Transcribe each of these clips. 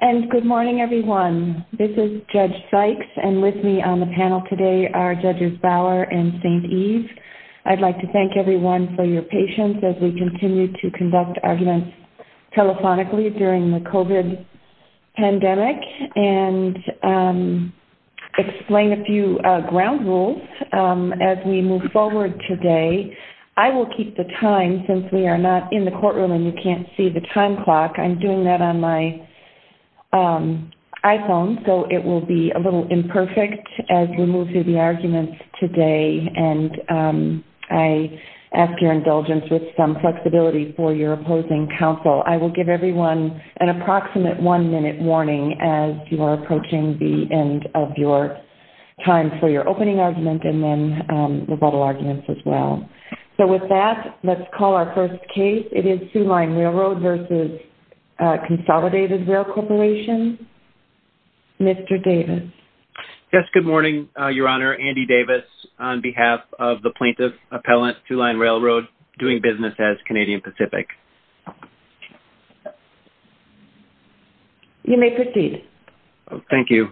And good morning everyone. This is Judge Sykes and with me on the panel today are Judges Bower and St. Eve. I'd like to thank everyone for your patience as we continue to conduct arguments telephonically during the COVID pandemic and explain a few ground rules as we move forward today. I will keep the time since we are not in the courtroom and you can't see the time clock. I'm doing that on my iPhone so it will be a little imperfect as we move through the arguments today and I ask your indulgence with some flexibility for your opposing counsel. I will give everyone an approximate one-minute warning as you are approaching the end of your time for your opening argument and then the final arguments as well. So with that, let's call our first case. It is Sioux Line Railroad v. Consolidated Rail Corporation. Mr. Davis. Yes, good morning Your Honor. Andy Davis on behalf of the plaintiff appellant Sioux Line Railroad doing business as Canadian Pacific. You may proceed. Thank you.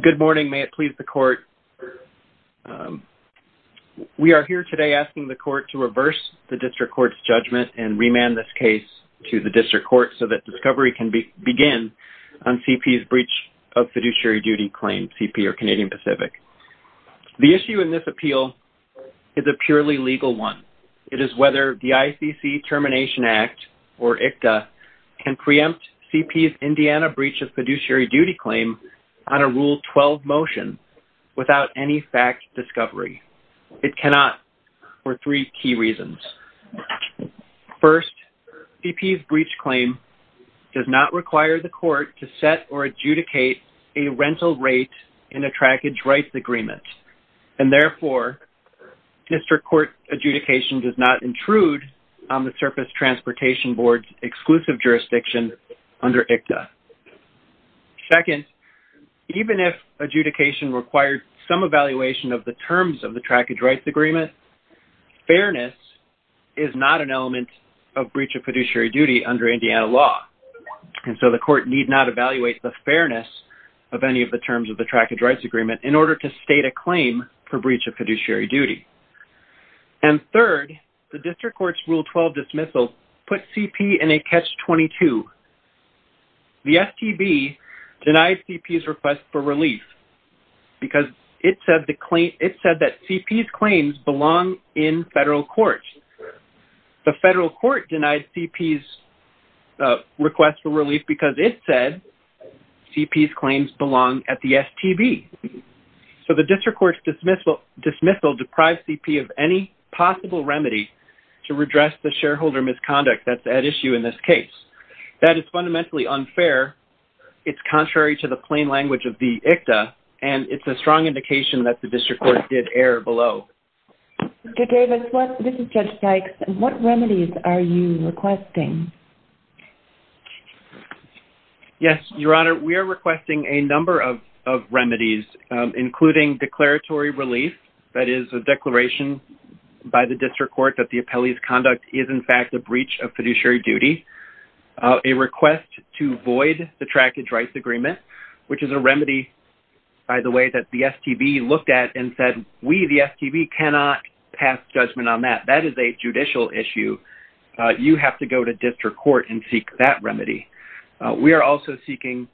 Good morning Your Honor. We are here today asking the court to reverse the district court's judgment and remand this case to the district court so that discovery can begin on CP's breach of fiduciary duty claim, CP or Canadian Pacific. The issue in this appeal is a purely legal one. It is whether the ICC Termination Act or ICTA can preempt CP's Indiana breach of fiduciary duty claim on a Rule 12 motion without any fact discovery. It cannot for three key reasons. First, CP's breach claim does not require the court to set or adjudicate a rental rate in a trackage rights agreement and therefore district court adjudication does not intrude on the Surface Transportation Board's exclusive jurisdiction under ICTA. Second, even if adjudication required some evaluation of the terms of the trackage rights agreement, fairness is not an element of breach of fiduciary duty under Indiana law and so the court need not evaluate the fairness of any of the terms of the trackage rights agreement in order to state a claim for breach of fiduciary duty. And third, the district court's Rule 12 dismissal put the STB denied CP's request for relief because it said that CP's claims belong in federal court. The federal court denied CP's request for relief because it said CP's claims belong at the STB. So the district court's dismissal deprived CP of any possible remedy to redress the shareholder misconduct that's at issue in this case. That is fundamentally unfair, it's contrary to the plain language of the ICTA, and it's a strong indication that the district court did err below. Mr. Davis, this is Judge Dykes, what remedies are you requesting? Yes, Your Honor, we are requesting a number of remedies including declaratory relief, that is a declaration by the district court that the appellee's conduct is in fact a breach of fiduciary duty, a request to void the trackage rights agreement, which is a remedy by the way that the STB looked at and said we, the STB, cannot pass judgment on that. That is a judicial issue. You have to go to district court and seek that remedy. We are also seeking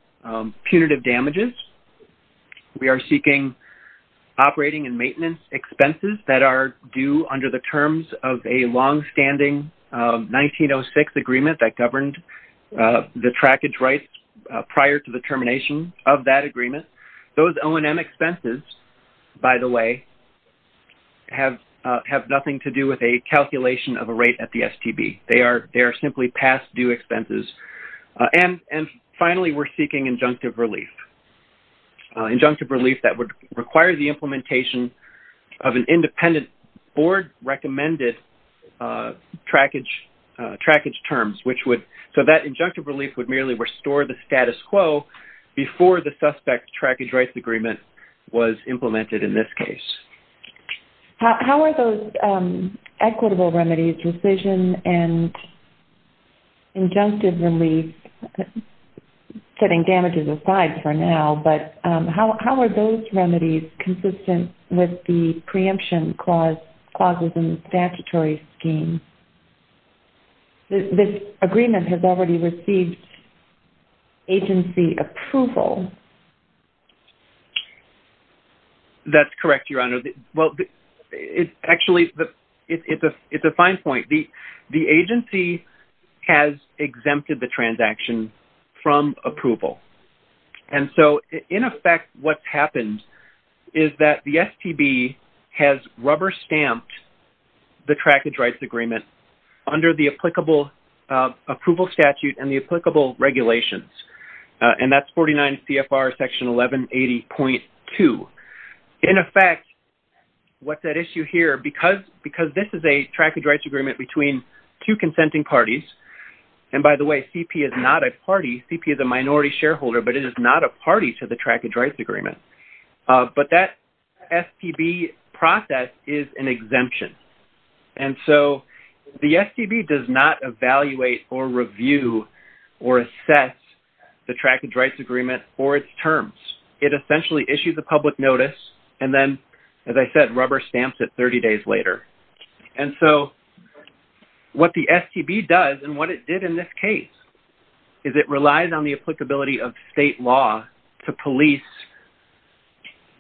punitive damages. We are seeking operating and maintenance expenses that are due under the terms of a long-standing 1906 agreement that governed the trackage rights prior to the termination of that agreement. Those O&M expenses, by the way, have nothing to do with a calculation of a rate at the STB. They are simply past due expenses. And finally, we're seeking injunctive relief. Injunctive relief that would require the implementation of an injunctive relief. So that injunctive relief would merely restore the status quo before the suspect's trackage rights agreement was implemented in this case. How are those equitable remedies, rescission and injunctive relief, setting damages aside for now, but how are those remedies consistent with the preemption clauses in the statutory scheme? This agreement has already received agency approval. That's correct, Your Honor. Well, actually, it's a fine point. The agency has exempted the transaction from approval. And so, in effect, what's the issue here? The agency rubber-stamped the trackage rights agreement under the applicable approval statute and the applicable regulations. And that's 49 CFR section 1180.2. In effect, what's at issue here? Because this is a trackage rights agreement between two consenting parties, and by the way, CP is not a party. CP is a minority shareholder, but it is not a party to the exemption. And so, the STB does not evaluate or review or assess the trackage rights agreement or its terms. It essentially issues a public notice, and then, as I said, rubber-stamps it 30 days later. And so, what the STB does, and what it did in this case, is it relies on the applicability of state law to police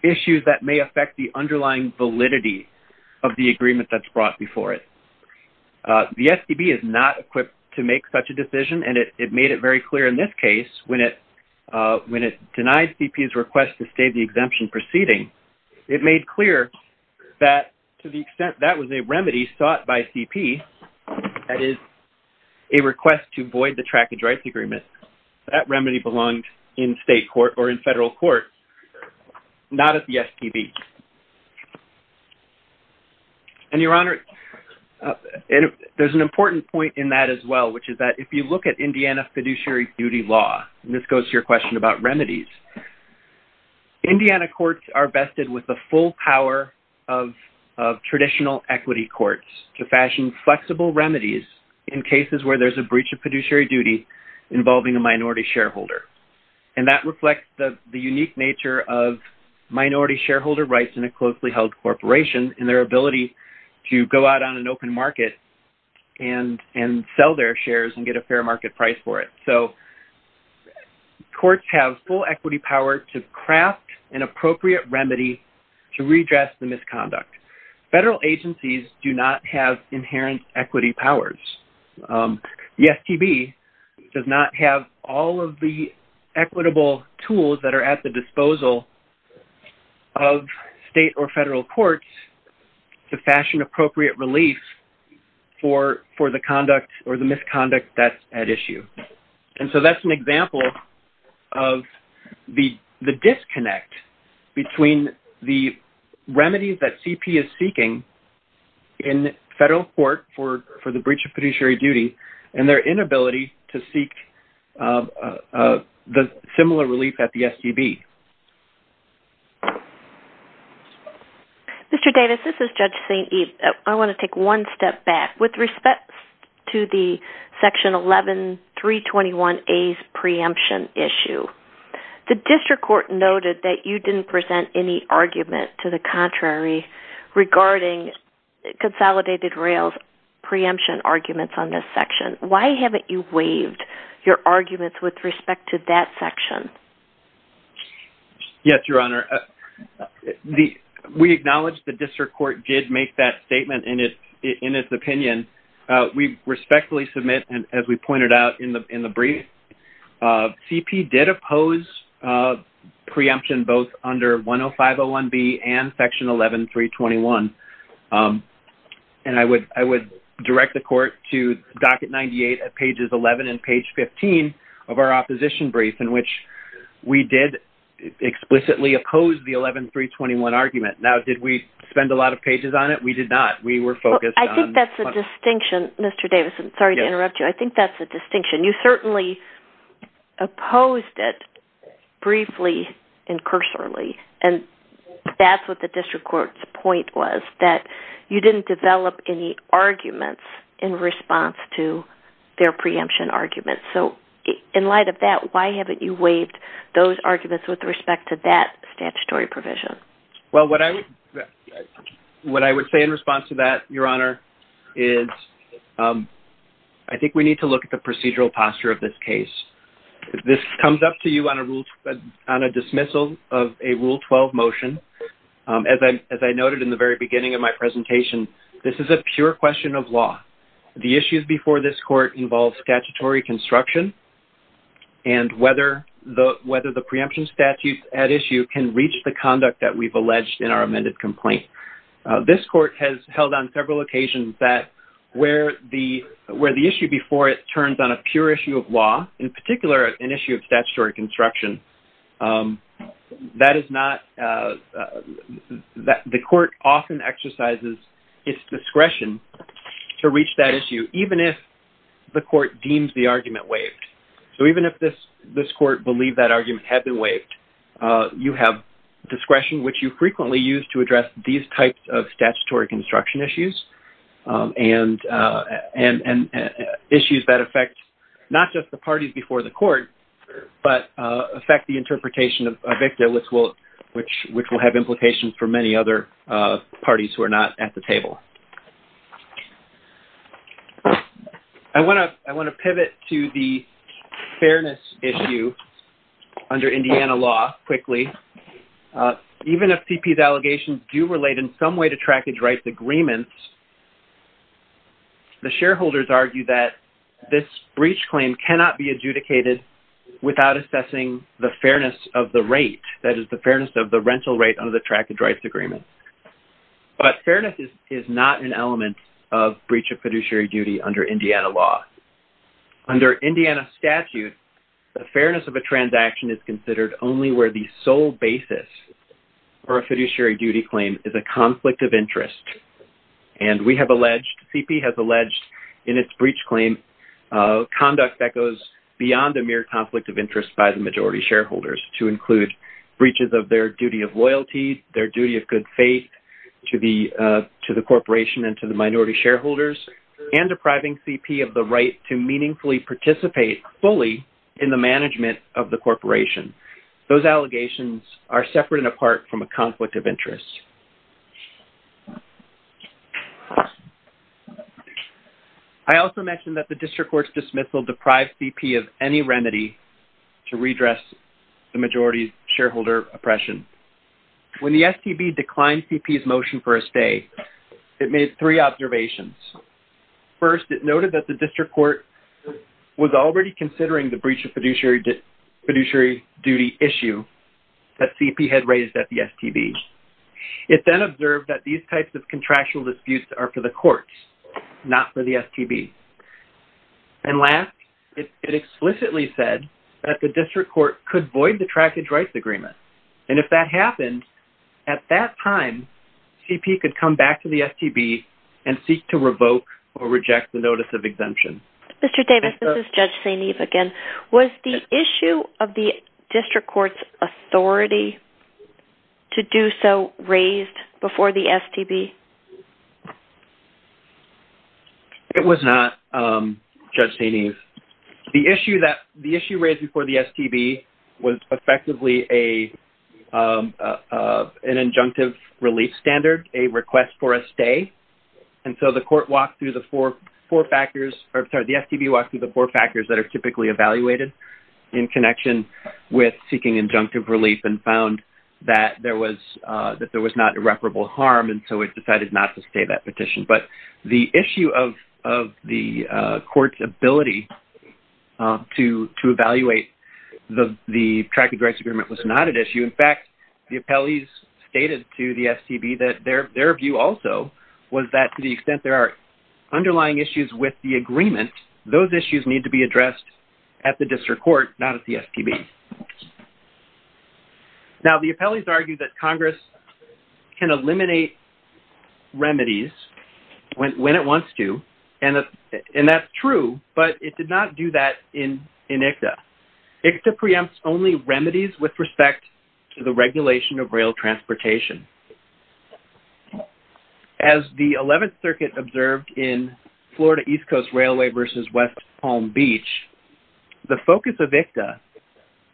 issues that may affect the underlying validity of the agreement that's brought before it. The STB is not equipped to make such a decision, and it made it very clear in this case, when it denied CP's request to stay the exemption proceeding, it made clear that, to the extent that was a remedy sought by CP, that is, a request to void the trackage rights agreement, that remedy belonged in federal court, not at the STB. And your Honor, there's an important point in that as well, which is that, if you look at Indiana fiduciary duty law, and this goes to your question about remedies, Indiana courts are vested with the full power of traditional equity courts to fashion flexible remedies in cases where there's a breach of fiduciary duty involving a minority shareholder. And that reflects the unique nature of minority shareholder rights in a closely-held corporation, and their ability to go out on an open market, and and sell their shares and get a fair market price for it. So, courts have full equity power to craft an appropriate remedy to redress the misconduct. Federal agencies do not have inherent equity powers. The STB does not have all of the equitable tools that are at the disposal of state or federal courts to fashion appropriate relief for the conduct or the misconduct that's at issue. And so, that's an example of the disconnect between the remedies that CP is seeking in federal court for the breach of fiduciary duty, and their similar relief at the STB. Mr. Davis, this is Judge St. Eve. I want to take one step back. With respect to the section 11-321A's preemption issue, the district court noted that you didn't present any argument to the contrary regarding consolidated rails preemption arguments on this section. Why haven't you waived your arguments with respect to that section? Yes, Your Honor. We acknowledge the district court did make that statement in its opinion. We respectfully submit, and as we pointed out in the brief, CP did oppose preemption both under 105-01B and section 11-321. And I would direct the court to docket 98 at pages 11 and page 15 of our opposition brief in which we did explicitly oppose the 11-321 argument. Now, did we spend a lot of pages on it? We did not. We were focused on... I think that's a distinction, Mr. Davis. I'm sorry to interrupt you. I think that's a distinction. You certainly opposed it briefly and cursorily, and that's what the district court's point was, that you didn't develop any arguments in response to their preemption arguments. So, in light of that, why haven't you waived those arguments with respect to that statutory provision? Well, what I would say in response to that, Your Honor, is I think we need to look at the procedural posture of this case. This comes up to you on a rule... on a dismissal of a Rule 12 motion. As I noted in the very beginning of my presentation, this is a pure question of law. The issues before this court involve statutory construction and whether the preemption statute at issue can reach the conduct that we've alleged in our amended complaint. This court has held on several occasions that where the issue before it turns on a pure issue of law, in particular an issue of statutory construction, that is not... the court often exercises its discretion to reach that issue, even if the court deems the argument waived. So, even if this court believed that argument had been waived, you have discretion, which you frequently use to address these types of statutory construction issues and issues that affect not just the parties before the court, but affect the interpretation of a victim, which will have implications for many other parties who are not at the table. I want to pivot to the fairness issue under Indiana law quickly. Even if CP's allegations do relate in some way to trackage rights agreements, the shareholders argue that this breach claim cannot be adjudicated without assessing the fairness of the rate, that is, the fairness of the rental rate under the trackage rights agreement. But fairness is not an element of breach of fiduciary duty under Indiana law. Under Indiana statute, the fairness of a transaction is considered only where the sole basis for a fiduciary duty claim is a conflict of interest, and we have alleged in its breach claim conduct that goes beyond the mere conflict of interest by the majority shareholders to include breaches of their duty of loyalty, their duty of good faith to the corporation and to the minority shareholders, and depriving CP of the right to meaningfully participate fully in the management of the corporation. Those allegations are separate and apart from a conflict of interest. I also mentioned that the district court's dismissal deprived CP of any remedy to redress the majority shareholder oppression. When the STB declined CP's motion for a stay, it made three observations. First, it noted that the district court was already considering the breach of fiduciary duty issue that CP had raised at the STB. It then observed that these types of contractual disputes are for the courts, not for the STB. And last, it explicitly said that the district court could void the trackage rights agreement, and if that happened, at that time, CP could come back to the STB and seek to revoke or reject the notice of exemption. Mr. Was the issue of the district court's authority to do so raised before the STB? It was not, Judge Stainys. The issue that the issue raised before the STB was effectively an injunctive relief standard, a request for a stay, and so the court walked through the four factors, or sorry, the STB walked through the four factors that are typically evaluated in connection with seeking injunctive relief and found that there was that there was not irreparable harm, and so it decided not to stay that petition. But the issue of the court's ability to to evaluate the the trackage rights agreement was not an issue. In fact, the appellees stated to the STB that their their view also was that to the extent there are underlying issues with the agreement, those issues need to be addressed at the district court, not at the STB. Now the appellees argue that Congress can eliminate remedies when it wants to, and that's true, but it did not do that in ICTA. ICTA preempts only remedies with respect to the circuit observed in Florida East Coast Railway versus West Palm Beach. The focus of ICTA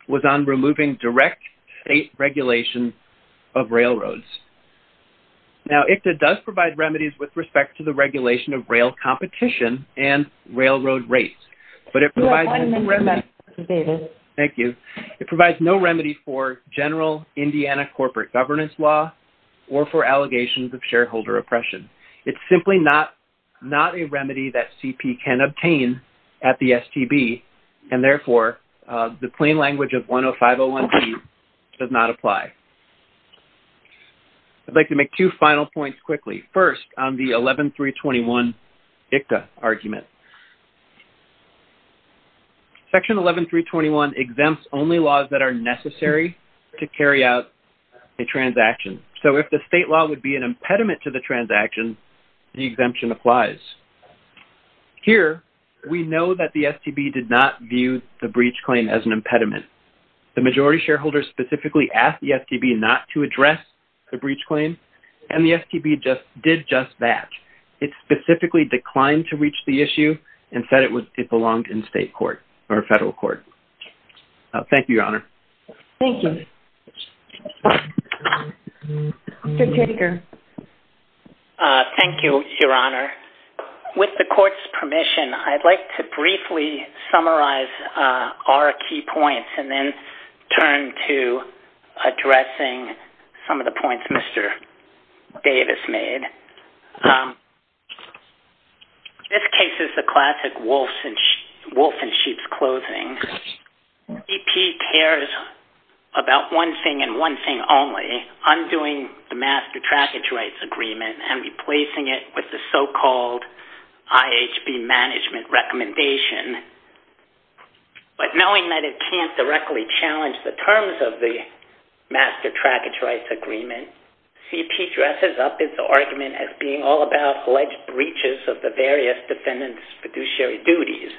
was on removing direct state regulation of railroads. Now ICTA does provide remedies with respect to the regulation of rail competition and railroad rates, but it provides no remedy for general Indiana corporate governance law or for allegations of shareholder oppression. It's simply not a remedy that CP can obtain at the STB, and therefore the plain language of 105.01b does not apply. I'd like to make two final points quickly. First, on the 11.321 ICTA argument. Section 11.321 exempts only laws that are necessary to carry out a transaction. So if the state law would be an impediment to the transaction, the exemption applies. Here we know that the STB did not view the breach claim as an impediment. The majority shareholders specifically asked the STB not to address the breach claim, and the STB just did just that. It specifically declined to reach the issue and said it was it belonged in state court or federal court. Thank you, Your Honor. Thank you. Mr. Teger. Thank you, Your Honor. With the court's permission, I'd like to briefly summarize our key points and then turn to addressing some of the points Mr. Davis made. This case is the classic wolf and sheep's clothing. CP cares about one thing and one thing only, undoing the master trackage rights agreement and replacing it with the so-called IHB management recommendation. But knowing that it can't directly challenge the terms of the master trackage rights agreement, CP dresses up its argument as being all about alleged breaches of the various defendants' fiduciary duties.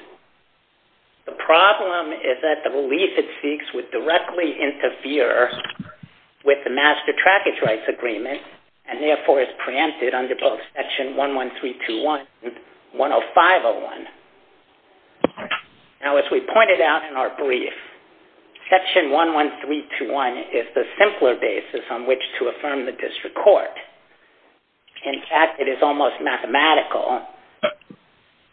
The problem is that the relief it seeks would directly interfere with the master trackage rights agreement and therefore is preempted under both Section 11321 and 10501. Now as we pointed out in our brief, Section 11321 is the simpler basis on which to affirm the district court. In fact, it is almost mathematical.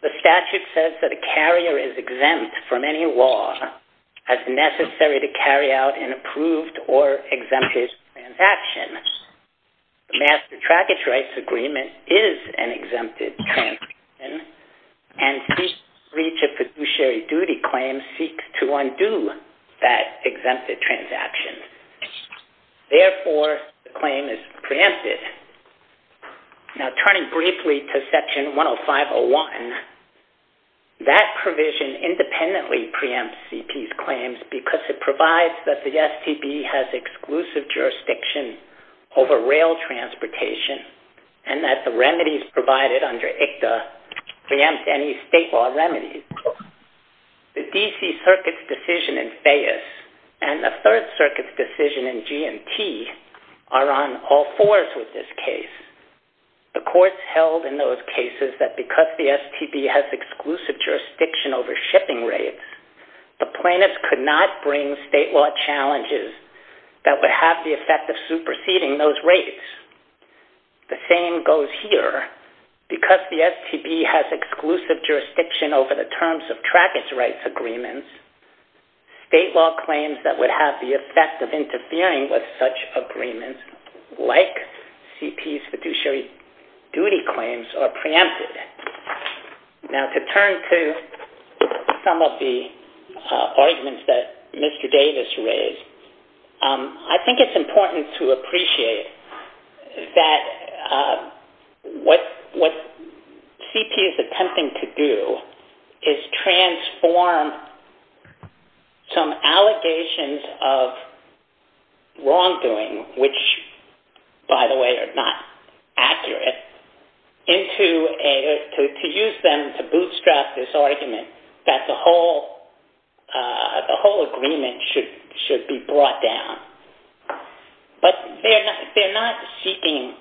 The statute says that a carrier is exempt from any law as necessary to carry out an approved or exempted transaction. The master trackage rights agreement is an exempted transaction and CP's breach of fiduciary duty claim seeks to undo that exempted transaction. Therefore, the claim is preempted. Now turning briefly to Section 10501, that provision independently preempts CP's claims because it provides that the STB has exclusive jurisdiction over rail transportation and that the remedies provided under ICTA preempt any state law remedies. The DC Circuit's decision in Fayess and the Third Circuit's decision in G&T are on all fours with this case. The courts held in those cases that because the STB has exclusive jurisdiction over shipping rates, the plaintiffs could not bring state law challenges that would have the effect of superseding those jurisdiction over the terms of trackage rights agreements. State law claims that would have the effect of interfering with such agreements, like CP's fiduciary duty claims, are preempted. Now to turn to some of the arguments that Mr. Davis raised, I think it's important to note that what they're trying to do is transform some allegations of wrongdoing, which, by the way, are not accurate, to use them to bootstrap this argument that the whole agreement should be brought down. But they're not seeking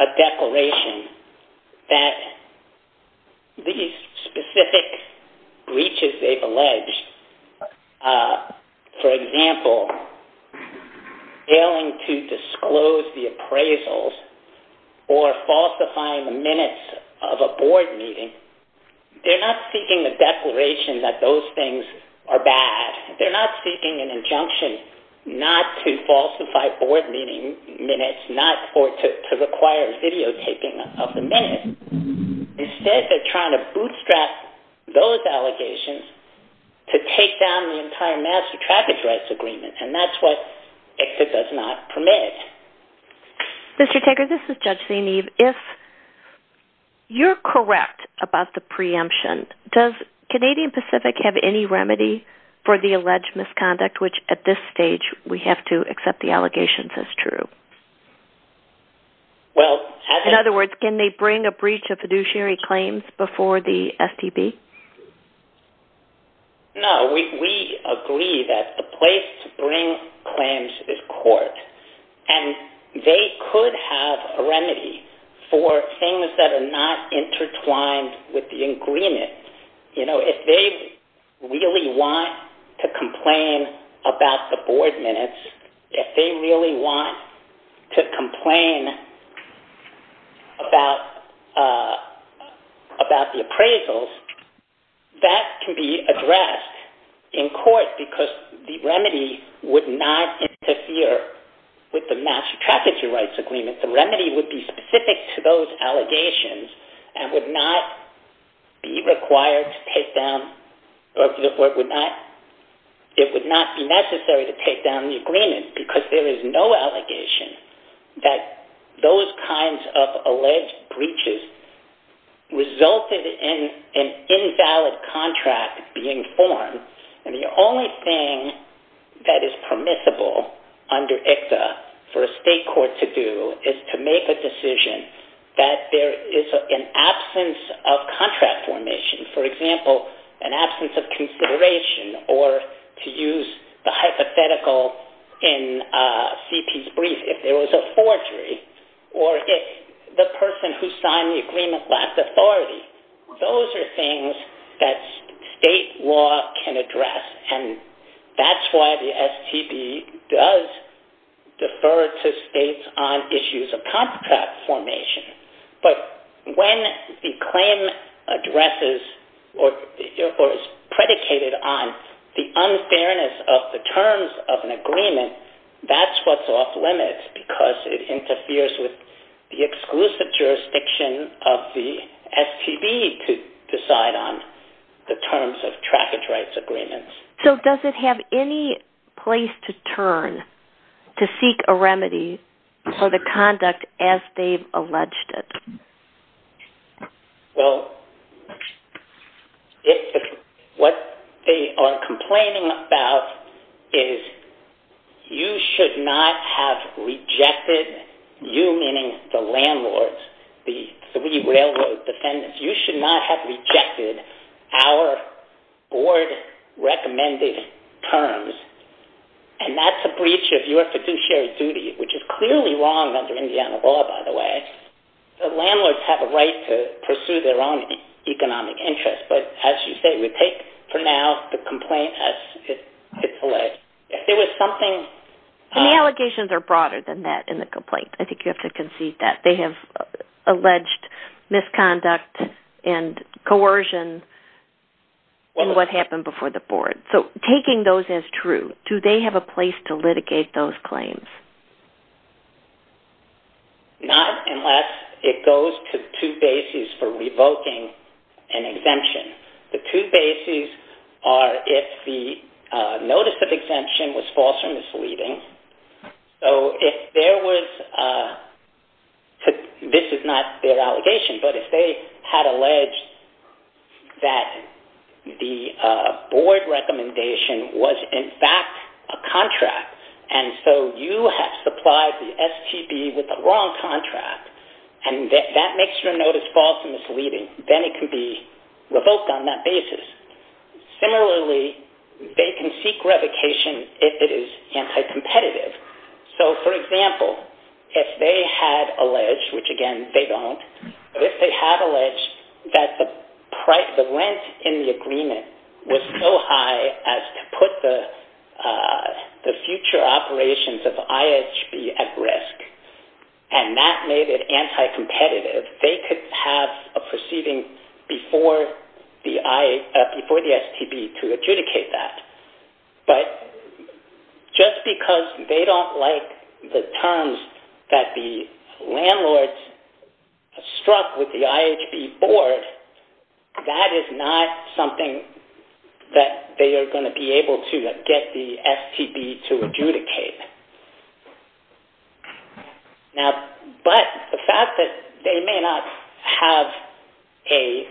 a declaration that these specific breaches they've alleged, for example, failing to disclose the appraisals or falsifying the minutes of a board meeting, they're not seeking the declaration that those things are bad. They're not seeking an injunction not to falsify board meeting minutes or to require videotaping of the minutes. Instead, they're trying to bootstrap those allegations to take down the entire master trackage rights agreement, and that's what EXIT does not permit. Mr. Taker, this is Judge Zainib. If you're correct about the preemption, does Canadian Pacific have any remedy for the alleged misconduct, which at this stage we have to accept the allegations as true? In other words, can they bring a breach of fiduciary claims before the STB? No. We agree that the place to bring claims is court, and they could have a remedy for things that are not intertwined with the agreement. You know, if they really want to complain about the board minutes, if they really want to complain about the appraisals, that can be addressed in court because the remedy would not interfere with the master trackage rights agreement. The remedy would be specific to those allegations and would not be required to take down or it would not be necessary to take down the agreement because there is no allegation that those kinds of alleged breaches resulted in an invalid contract being formed. And the only thing that is permissible under ICTA for a state court to do is to make a decision that there is an absence of contract formation. For example, an absence of consideration or, to use the hypothetical in CP's brief, if there was a forgery or if the person who signed the agreement lacked authority. Those are things that state law can address, and that's why the STB does defer to states on issues of contract formation. But when the claim addresses or is predicated on the unfairness of the terms of an agreement, that's what's off limits because it interferes with the exclusive jurisdiction of the STB to decide on the terms of trackage rights agreements. So does it have any place to turn to seek a remedy for the conduct as they've alleged it? Well, what they are complaining about is you should not have rejected, you meaning the landlords, the three railroad defendants, you should not have rejected our board-recommended terms. And that's a breach of your fiduciary duty, which is clearly wrong under Indiana law, by the way. The landlords have a right to pursue their own economic interests, but as you say, we take for now the complaint as it's alleged. And the allegations are broader than that in the complaint. I think you have to concede that. They have alleged misconduct and coercion in what happened before the board. So taking those as true, do they have a place to litigate those claims? Not unless it goes to two bases for revoking an exemption. The two bases are if the notice of exemption was false or misleading. So if there was, this is not their allegation, but if they had alleged that the board recommendation was in fact a contract, and so you have supplied the STB with the wrong contract, and that makes your notice false and misleading, then it can be revoked on that basis. Similarly, they can seek revocation if it is anti-competitive. So for example, if they had alleged, which again, they don't, but if they had alleged that the rent in the agreement was so high as to put the future operations of IHB at risk, and that made it anti-competitive, they could have a proceeding before the STB to adjudicate that. But just because they don't like the terms that the landlord struck with the IHB board, that is not something that they are going to be able to get the STB to adjudicate. Now, but the fact that they may not have a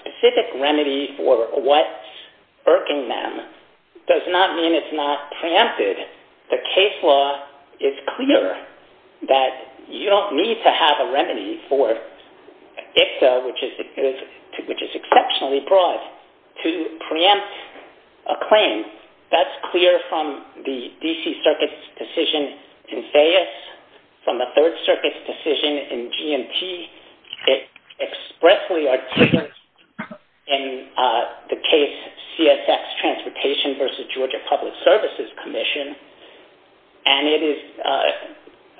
specific remedy for what's irking them does not mean it's not preempted. The case law is clear that you don't need to have a remedy for ICTA, which is exceptionally broad, to preempt a claim. That's clear from the D.C. Circuit's decision in Fayess, from the Third Circuit's decision in GMT. It expressly articulates in the case CSX Transportation v. Georgia Public Services Commission, and it is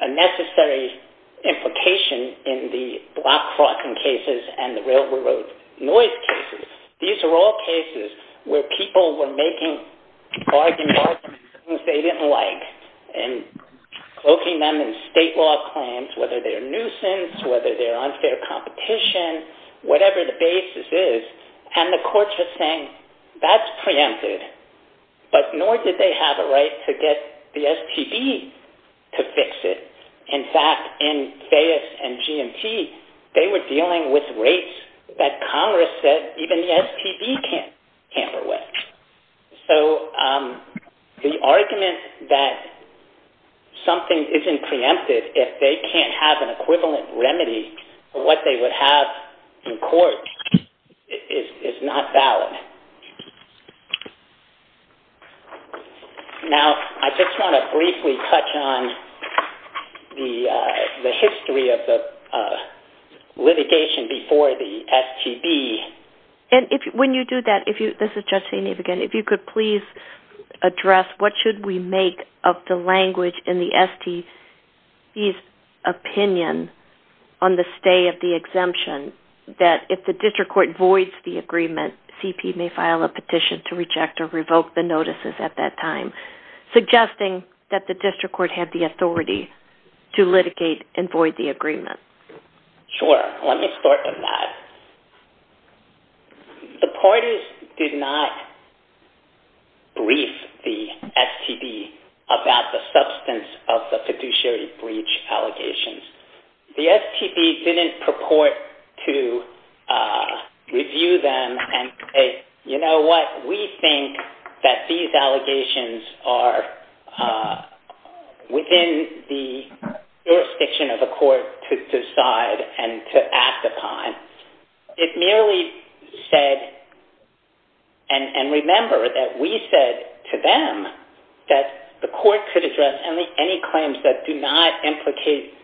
a necessary implication in the block fracking cases and the railroad noise cases. These are all cases where people were making bargaining arguments they didn't like, and cloaking them in state law claims, whether they're nuisance, whether they're unfair competition, whatever the basis is. And the courts are saying, that's preempted, but nor did they have a right to get the STB to fix it. In fact, in Fayess and GMT, they were dealing with rates that Congress said even the STB can't hamper with. So the argument that something isn't preempted if they can't have an equivalent remedy for what they would have in court is not valid. Now, I just want to briefly touch on the history of the litigation before the STB. And when you do that, if you could please address what should we make of the language in the STB's opinion on the stay of the exemption, that if the district court voids the agreement, CP may file a petition to reject or revoke the notices at that time, suggesting that the district court have the authority to litigate and void the agreement. Sure. Let me start with that. The parties did not brief the STB about the substance of the fiduciary breach allegations. The STB didn't purport to review them and say, you know what, we think that these allegations are within the jurisdiction of the court to decide and to act upon. It merely said, and remember that we said to them that the court could address any claims that do not implicate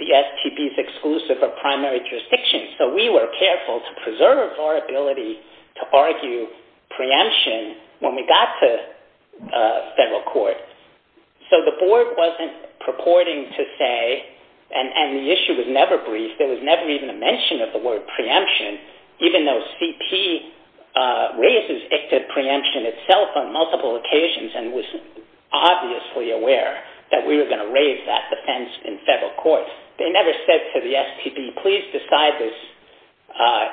the STB's exclusive or primary jurisdiction. So we were careful to preserve our ability to argue preemption when we got to federal court. So the board wasn't purporting to say, and the issue was never briefed, there was never even a mention of the word preemption, even though CP raises it to preemption itself on multiple occasions and was obviously aware that we were going to raise that defense in federal court. They never said to the STB, please decide this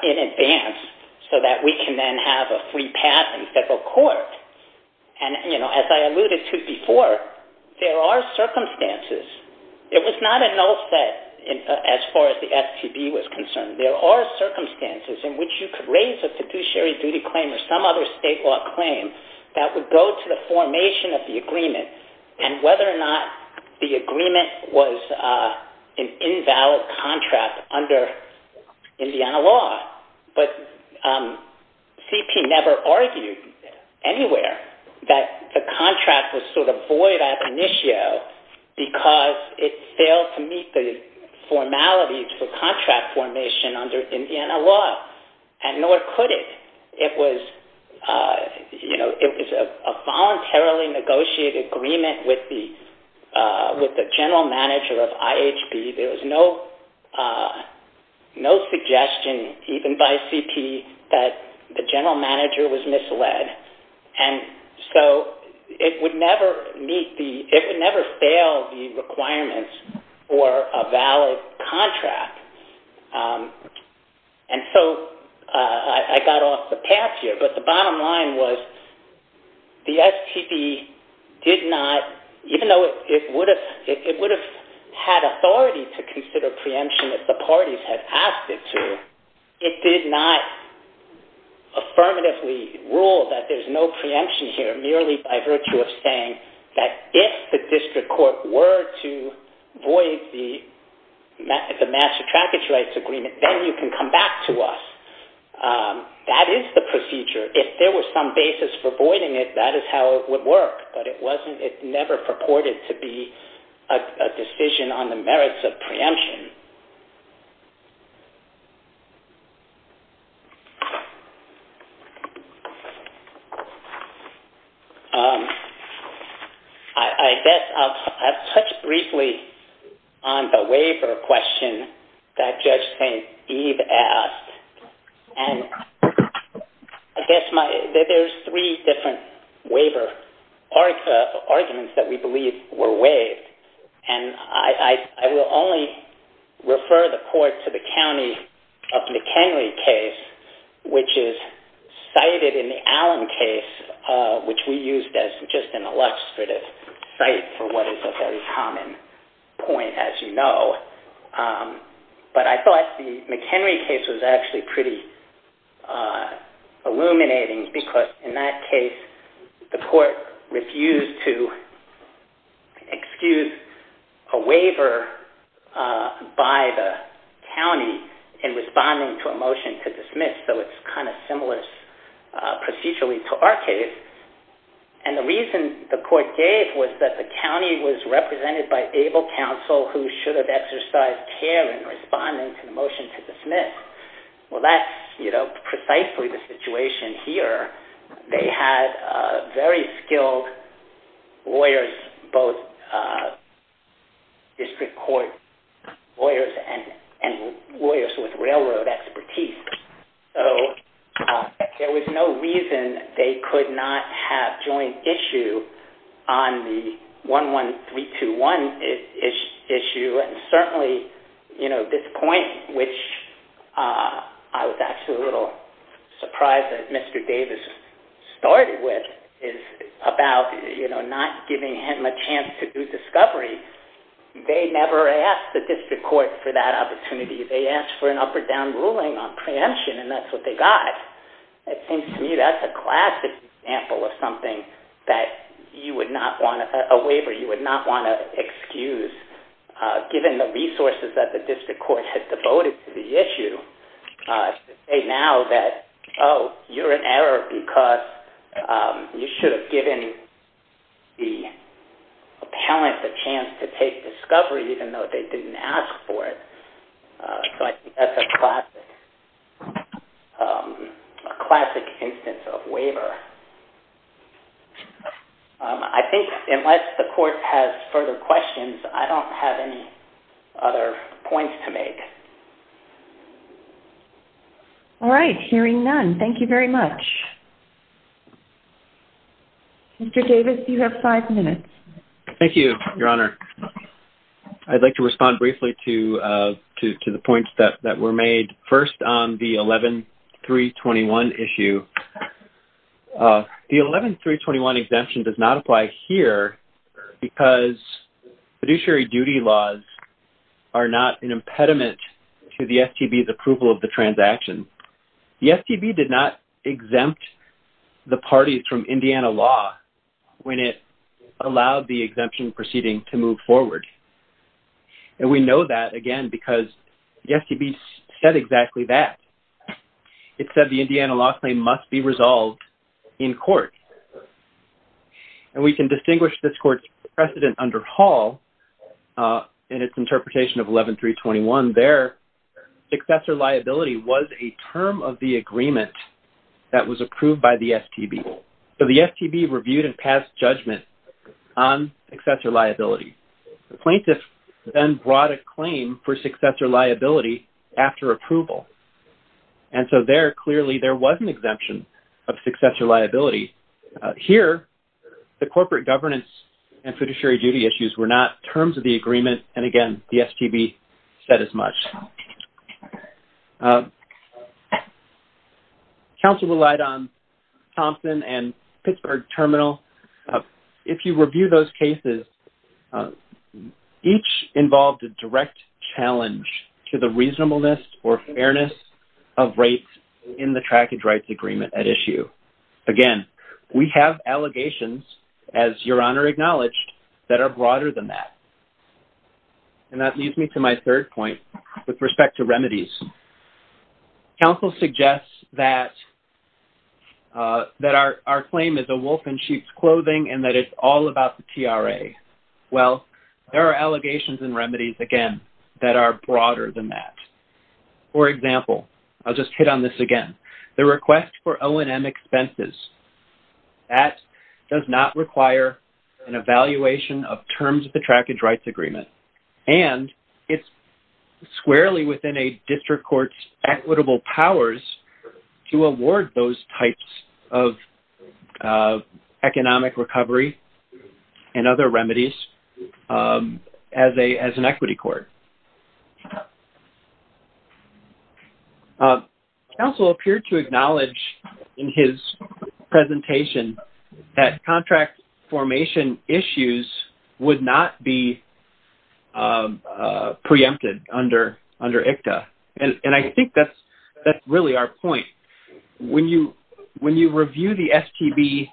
in advance so that we can then have a free pass in federal court. And as I alluded to before, there are circumstances. It was not a null set as far as the STB was concerned. There are circumstances in which you could raise a fiduciary duty claim or some other state law claim that would go to the formation of the agreement and whether or not the agreement was an invalid contract under Indiana law. But CP never argued anywhere that the contract was sort of void at initio because it failed to meet the formality for contract formation under Indiana law. And nor could it. It was a voluntarily negotiated agreement with the general manager of IHB. There was no suggestion even by CP that the general manager was misled. And so it would never meet the, it would never fail the requirements for a valid contract. And so I got off the path here, but the bottom line was the STB did not, even though it would have had authority to consider preemption if the parties had asked it to, it did not affirmatively rule that there's no preemption here merely by virtue of saying that if the district court were to void the master trackage rights agreement, then you can come back to us. That is the procedure. If there was some basis for voiding it, that is how it would work. But it never purported to be a decision on the merits of preemption. I guess I'll touch briefly on the waiver question that Judge St. Eve asked. And I guess my, there's three different waiver arguments that we believe were waived. And I will only refer the court to the County of McHenry case, which is cited in the Allen case, which we used as just an illustrative site for what is a very common point, as you know. But I thought the McHenry case was actually pretty illuminating, because in that case, the court refused to excuse a waiver by the county in responding to a motion to dismiss. So it's kind of similar procedurally to our case. And the reason the court gave was that the county was represented by able counsel who should have exercised care in responding to the motion to dismiss. Well, that's, you know, precisely the situation here. They had very skilled lawyers, both district court lawyers and lawyers with railroad expertise. So there was no reason they could not have joint issue on the 11321 issue. And certainly, you know, this point, which I was actually a little surprised that Mr. Davis started with, is about, you know, not giving him a chance to do discovery. They never asked the district court for that opportunity. They asked for an up or down ruling on preemption, and that's what they got. It seems to me that's a classic example of something that you would not want to – a waiver you would not want to excuse, given the resources that the district court had devoted to the issue, to say now that, oh, you're in error because you should have given the appellant the chance to take discovery, even though they didn't ask for it. So I think that's a classic instance of waiver. I think unless the court has further questions, I don't have any other points to make. All right. Hearing none, thank you very much. Mr. Davis, you have five minutes. Thank you, Your Honor. I'd like to respond briefly to the points that were made. First, on the 11-321 issue, the 11-321 exemption does not apply here because fiduciary duty laws are not an impediment to the STB's approval of the transaction. The STB did not exempt the parties from Indiana law when it allowed the exemption proceeding to move forward. And we know that, again, because the STB said exactly that. It said the Indiana law claim must be resolved in court. And we can distinguish this court's precedent under Hall in its interpretation of 11-321. On their, successor liability was a term of the agreement that was approved by the STB. So the STB reviewed and passed judgment on successor liability. The plaintiff then brought a claim for successor liability after approval. And so there, clearly, there was an exemption of successor liability. Here, the corporate governance and fiduciary duty issues were not terms of the agreement. And, again, the STB said as much. Counsel relied on Thompson and Pittsburgh Terminal. If you review those cases, each involved a direct challenge to the reasonableness or fairness of rates in the trackage rights agreement at issue. Again, we have allegations, as Your Honor acknowledged, that are broader than that. And that leads me to my third point with respect to remedies. Counsel suggests that our claim is a wolf in sheep's clothing and that it's all about the TRA. Well, there are allegations and remedies, again, that are broader than that. For example, I'll just hit on this again. The request for O&M expenses. That does not require an evaluation of terms of the trackage rights agreement. And it's squarely within a district court's equitable powers to award those types of economic recovery and other remedies as an equity court. Counsel appeared to acknowledge in his presentation that contract formation issues would not be preempted under ICTA. And I think that's really our point. When you review the STB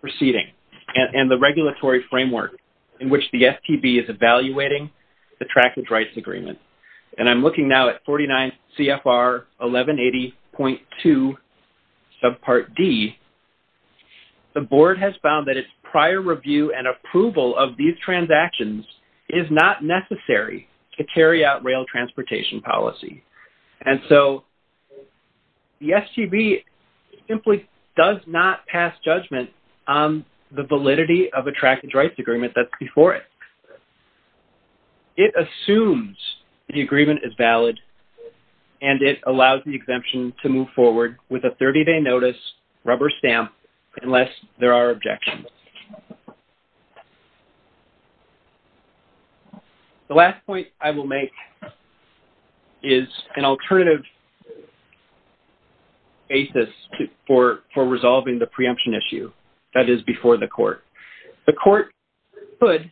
proceeding and the regulatory framework in which the STB is evaluating the trackage rights agreement, and I'm looking now at 49 CFR 1180.2 subpart D, the board has found that its prior review and approval of these transactions is not necessary to carry out rail transportation policy. And so the STB simply does not pass judgment on the validity of a trackage rights agreement that's before it. It assumes the agreement is valid and it allows the exemption to move forward with a 30-day notice, rubber stamp, unless there are objections. The last point I will make is an alternative basis for resolving the preemption issue that is before the court. The court could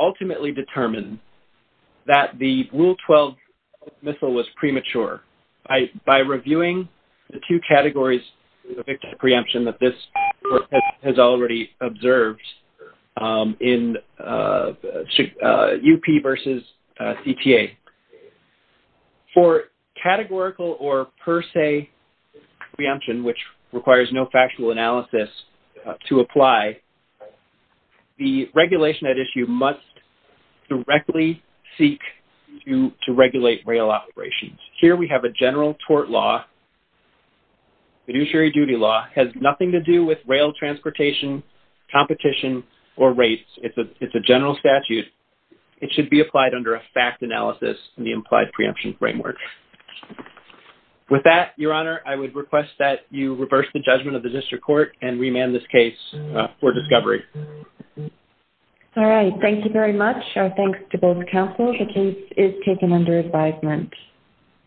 ultimately determine that the Rule 12 missile was premature. By reviewing the two categories of victim preemption that this court has already observed in UP versus CTA, for categorical or per se preemption, which requires no factual analysis to apply, the regulation at issue must directly seek to regulate rail operations. Here we have a general tort law, fiduciary duty law, has nothing to do with rail transportation, competition, or race. It's a general statute. It should be applied under a fact analysis in the implied preemption framework. With that, Your Honor, I would request that you reverse the judgment of the district court and remand this case for discovery. All right. Thank you very much. Our thanks to both counsel. The case is taken under advisement.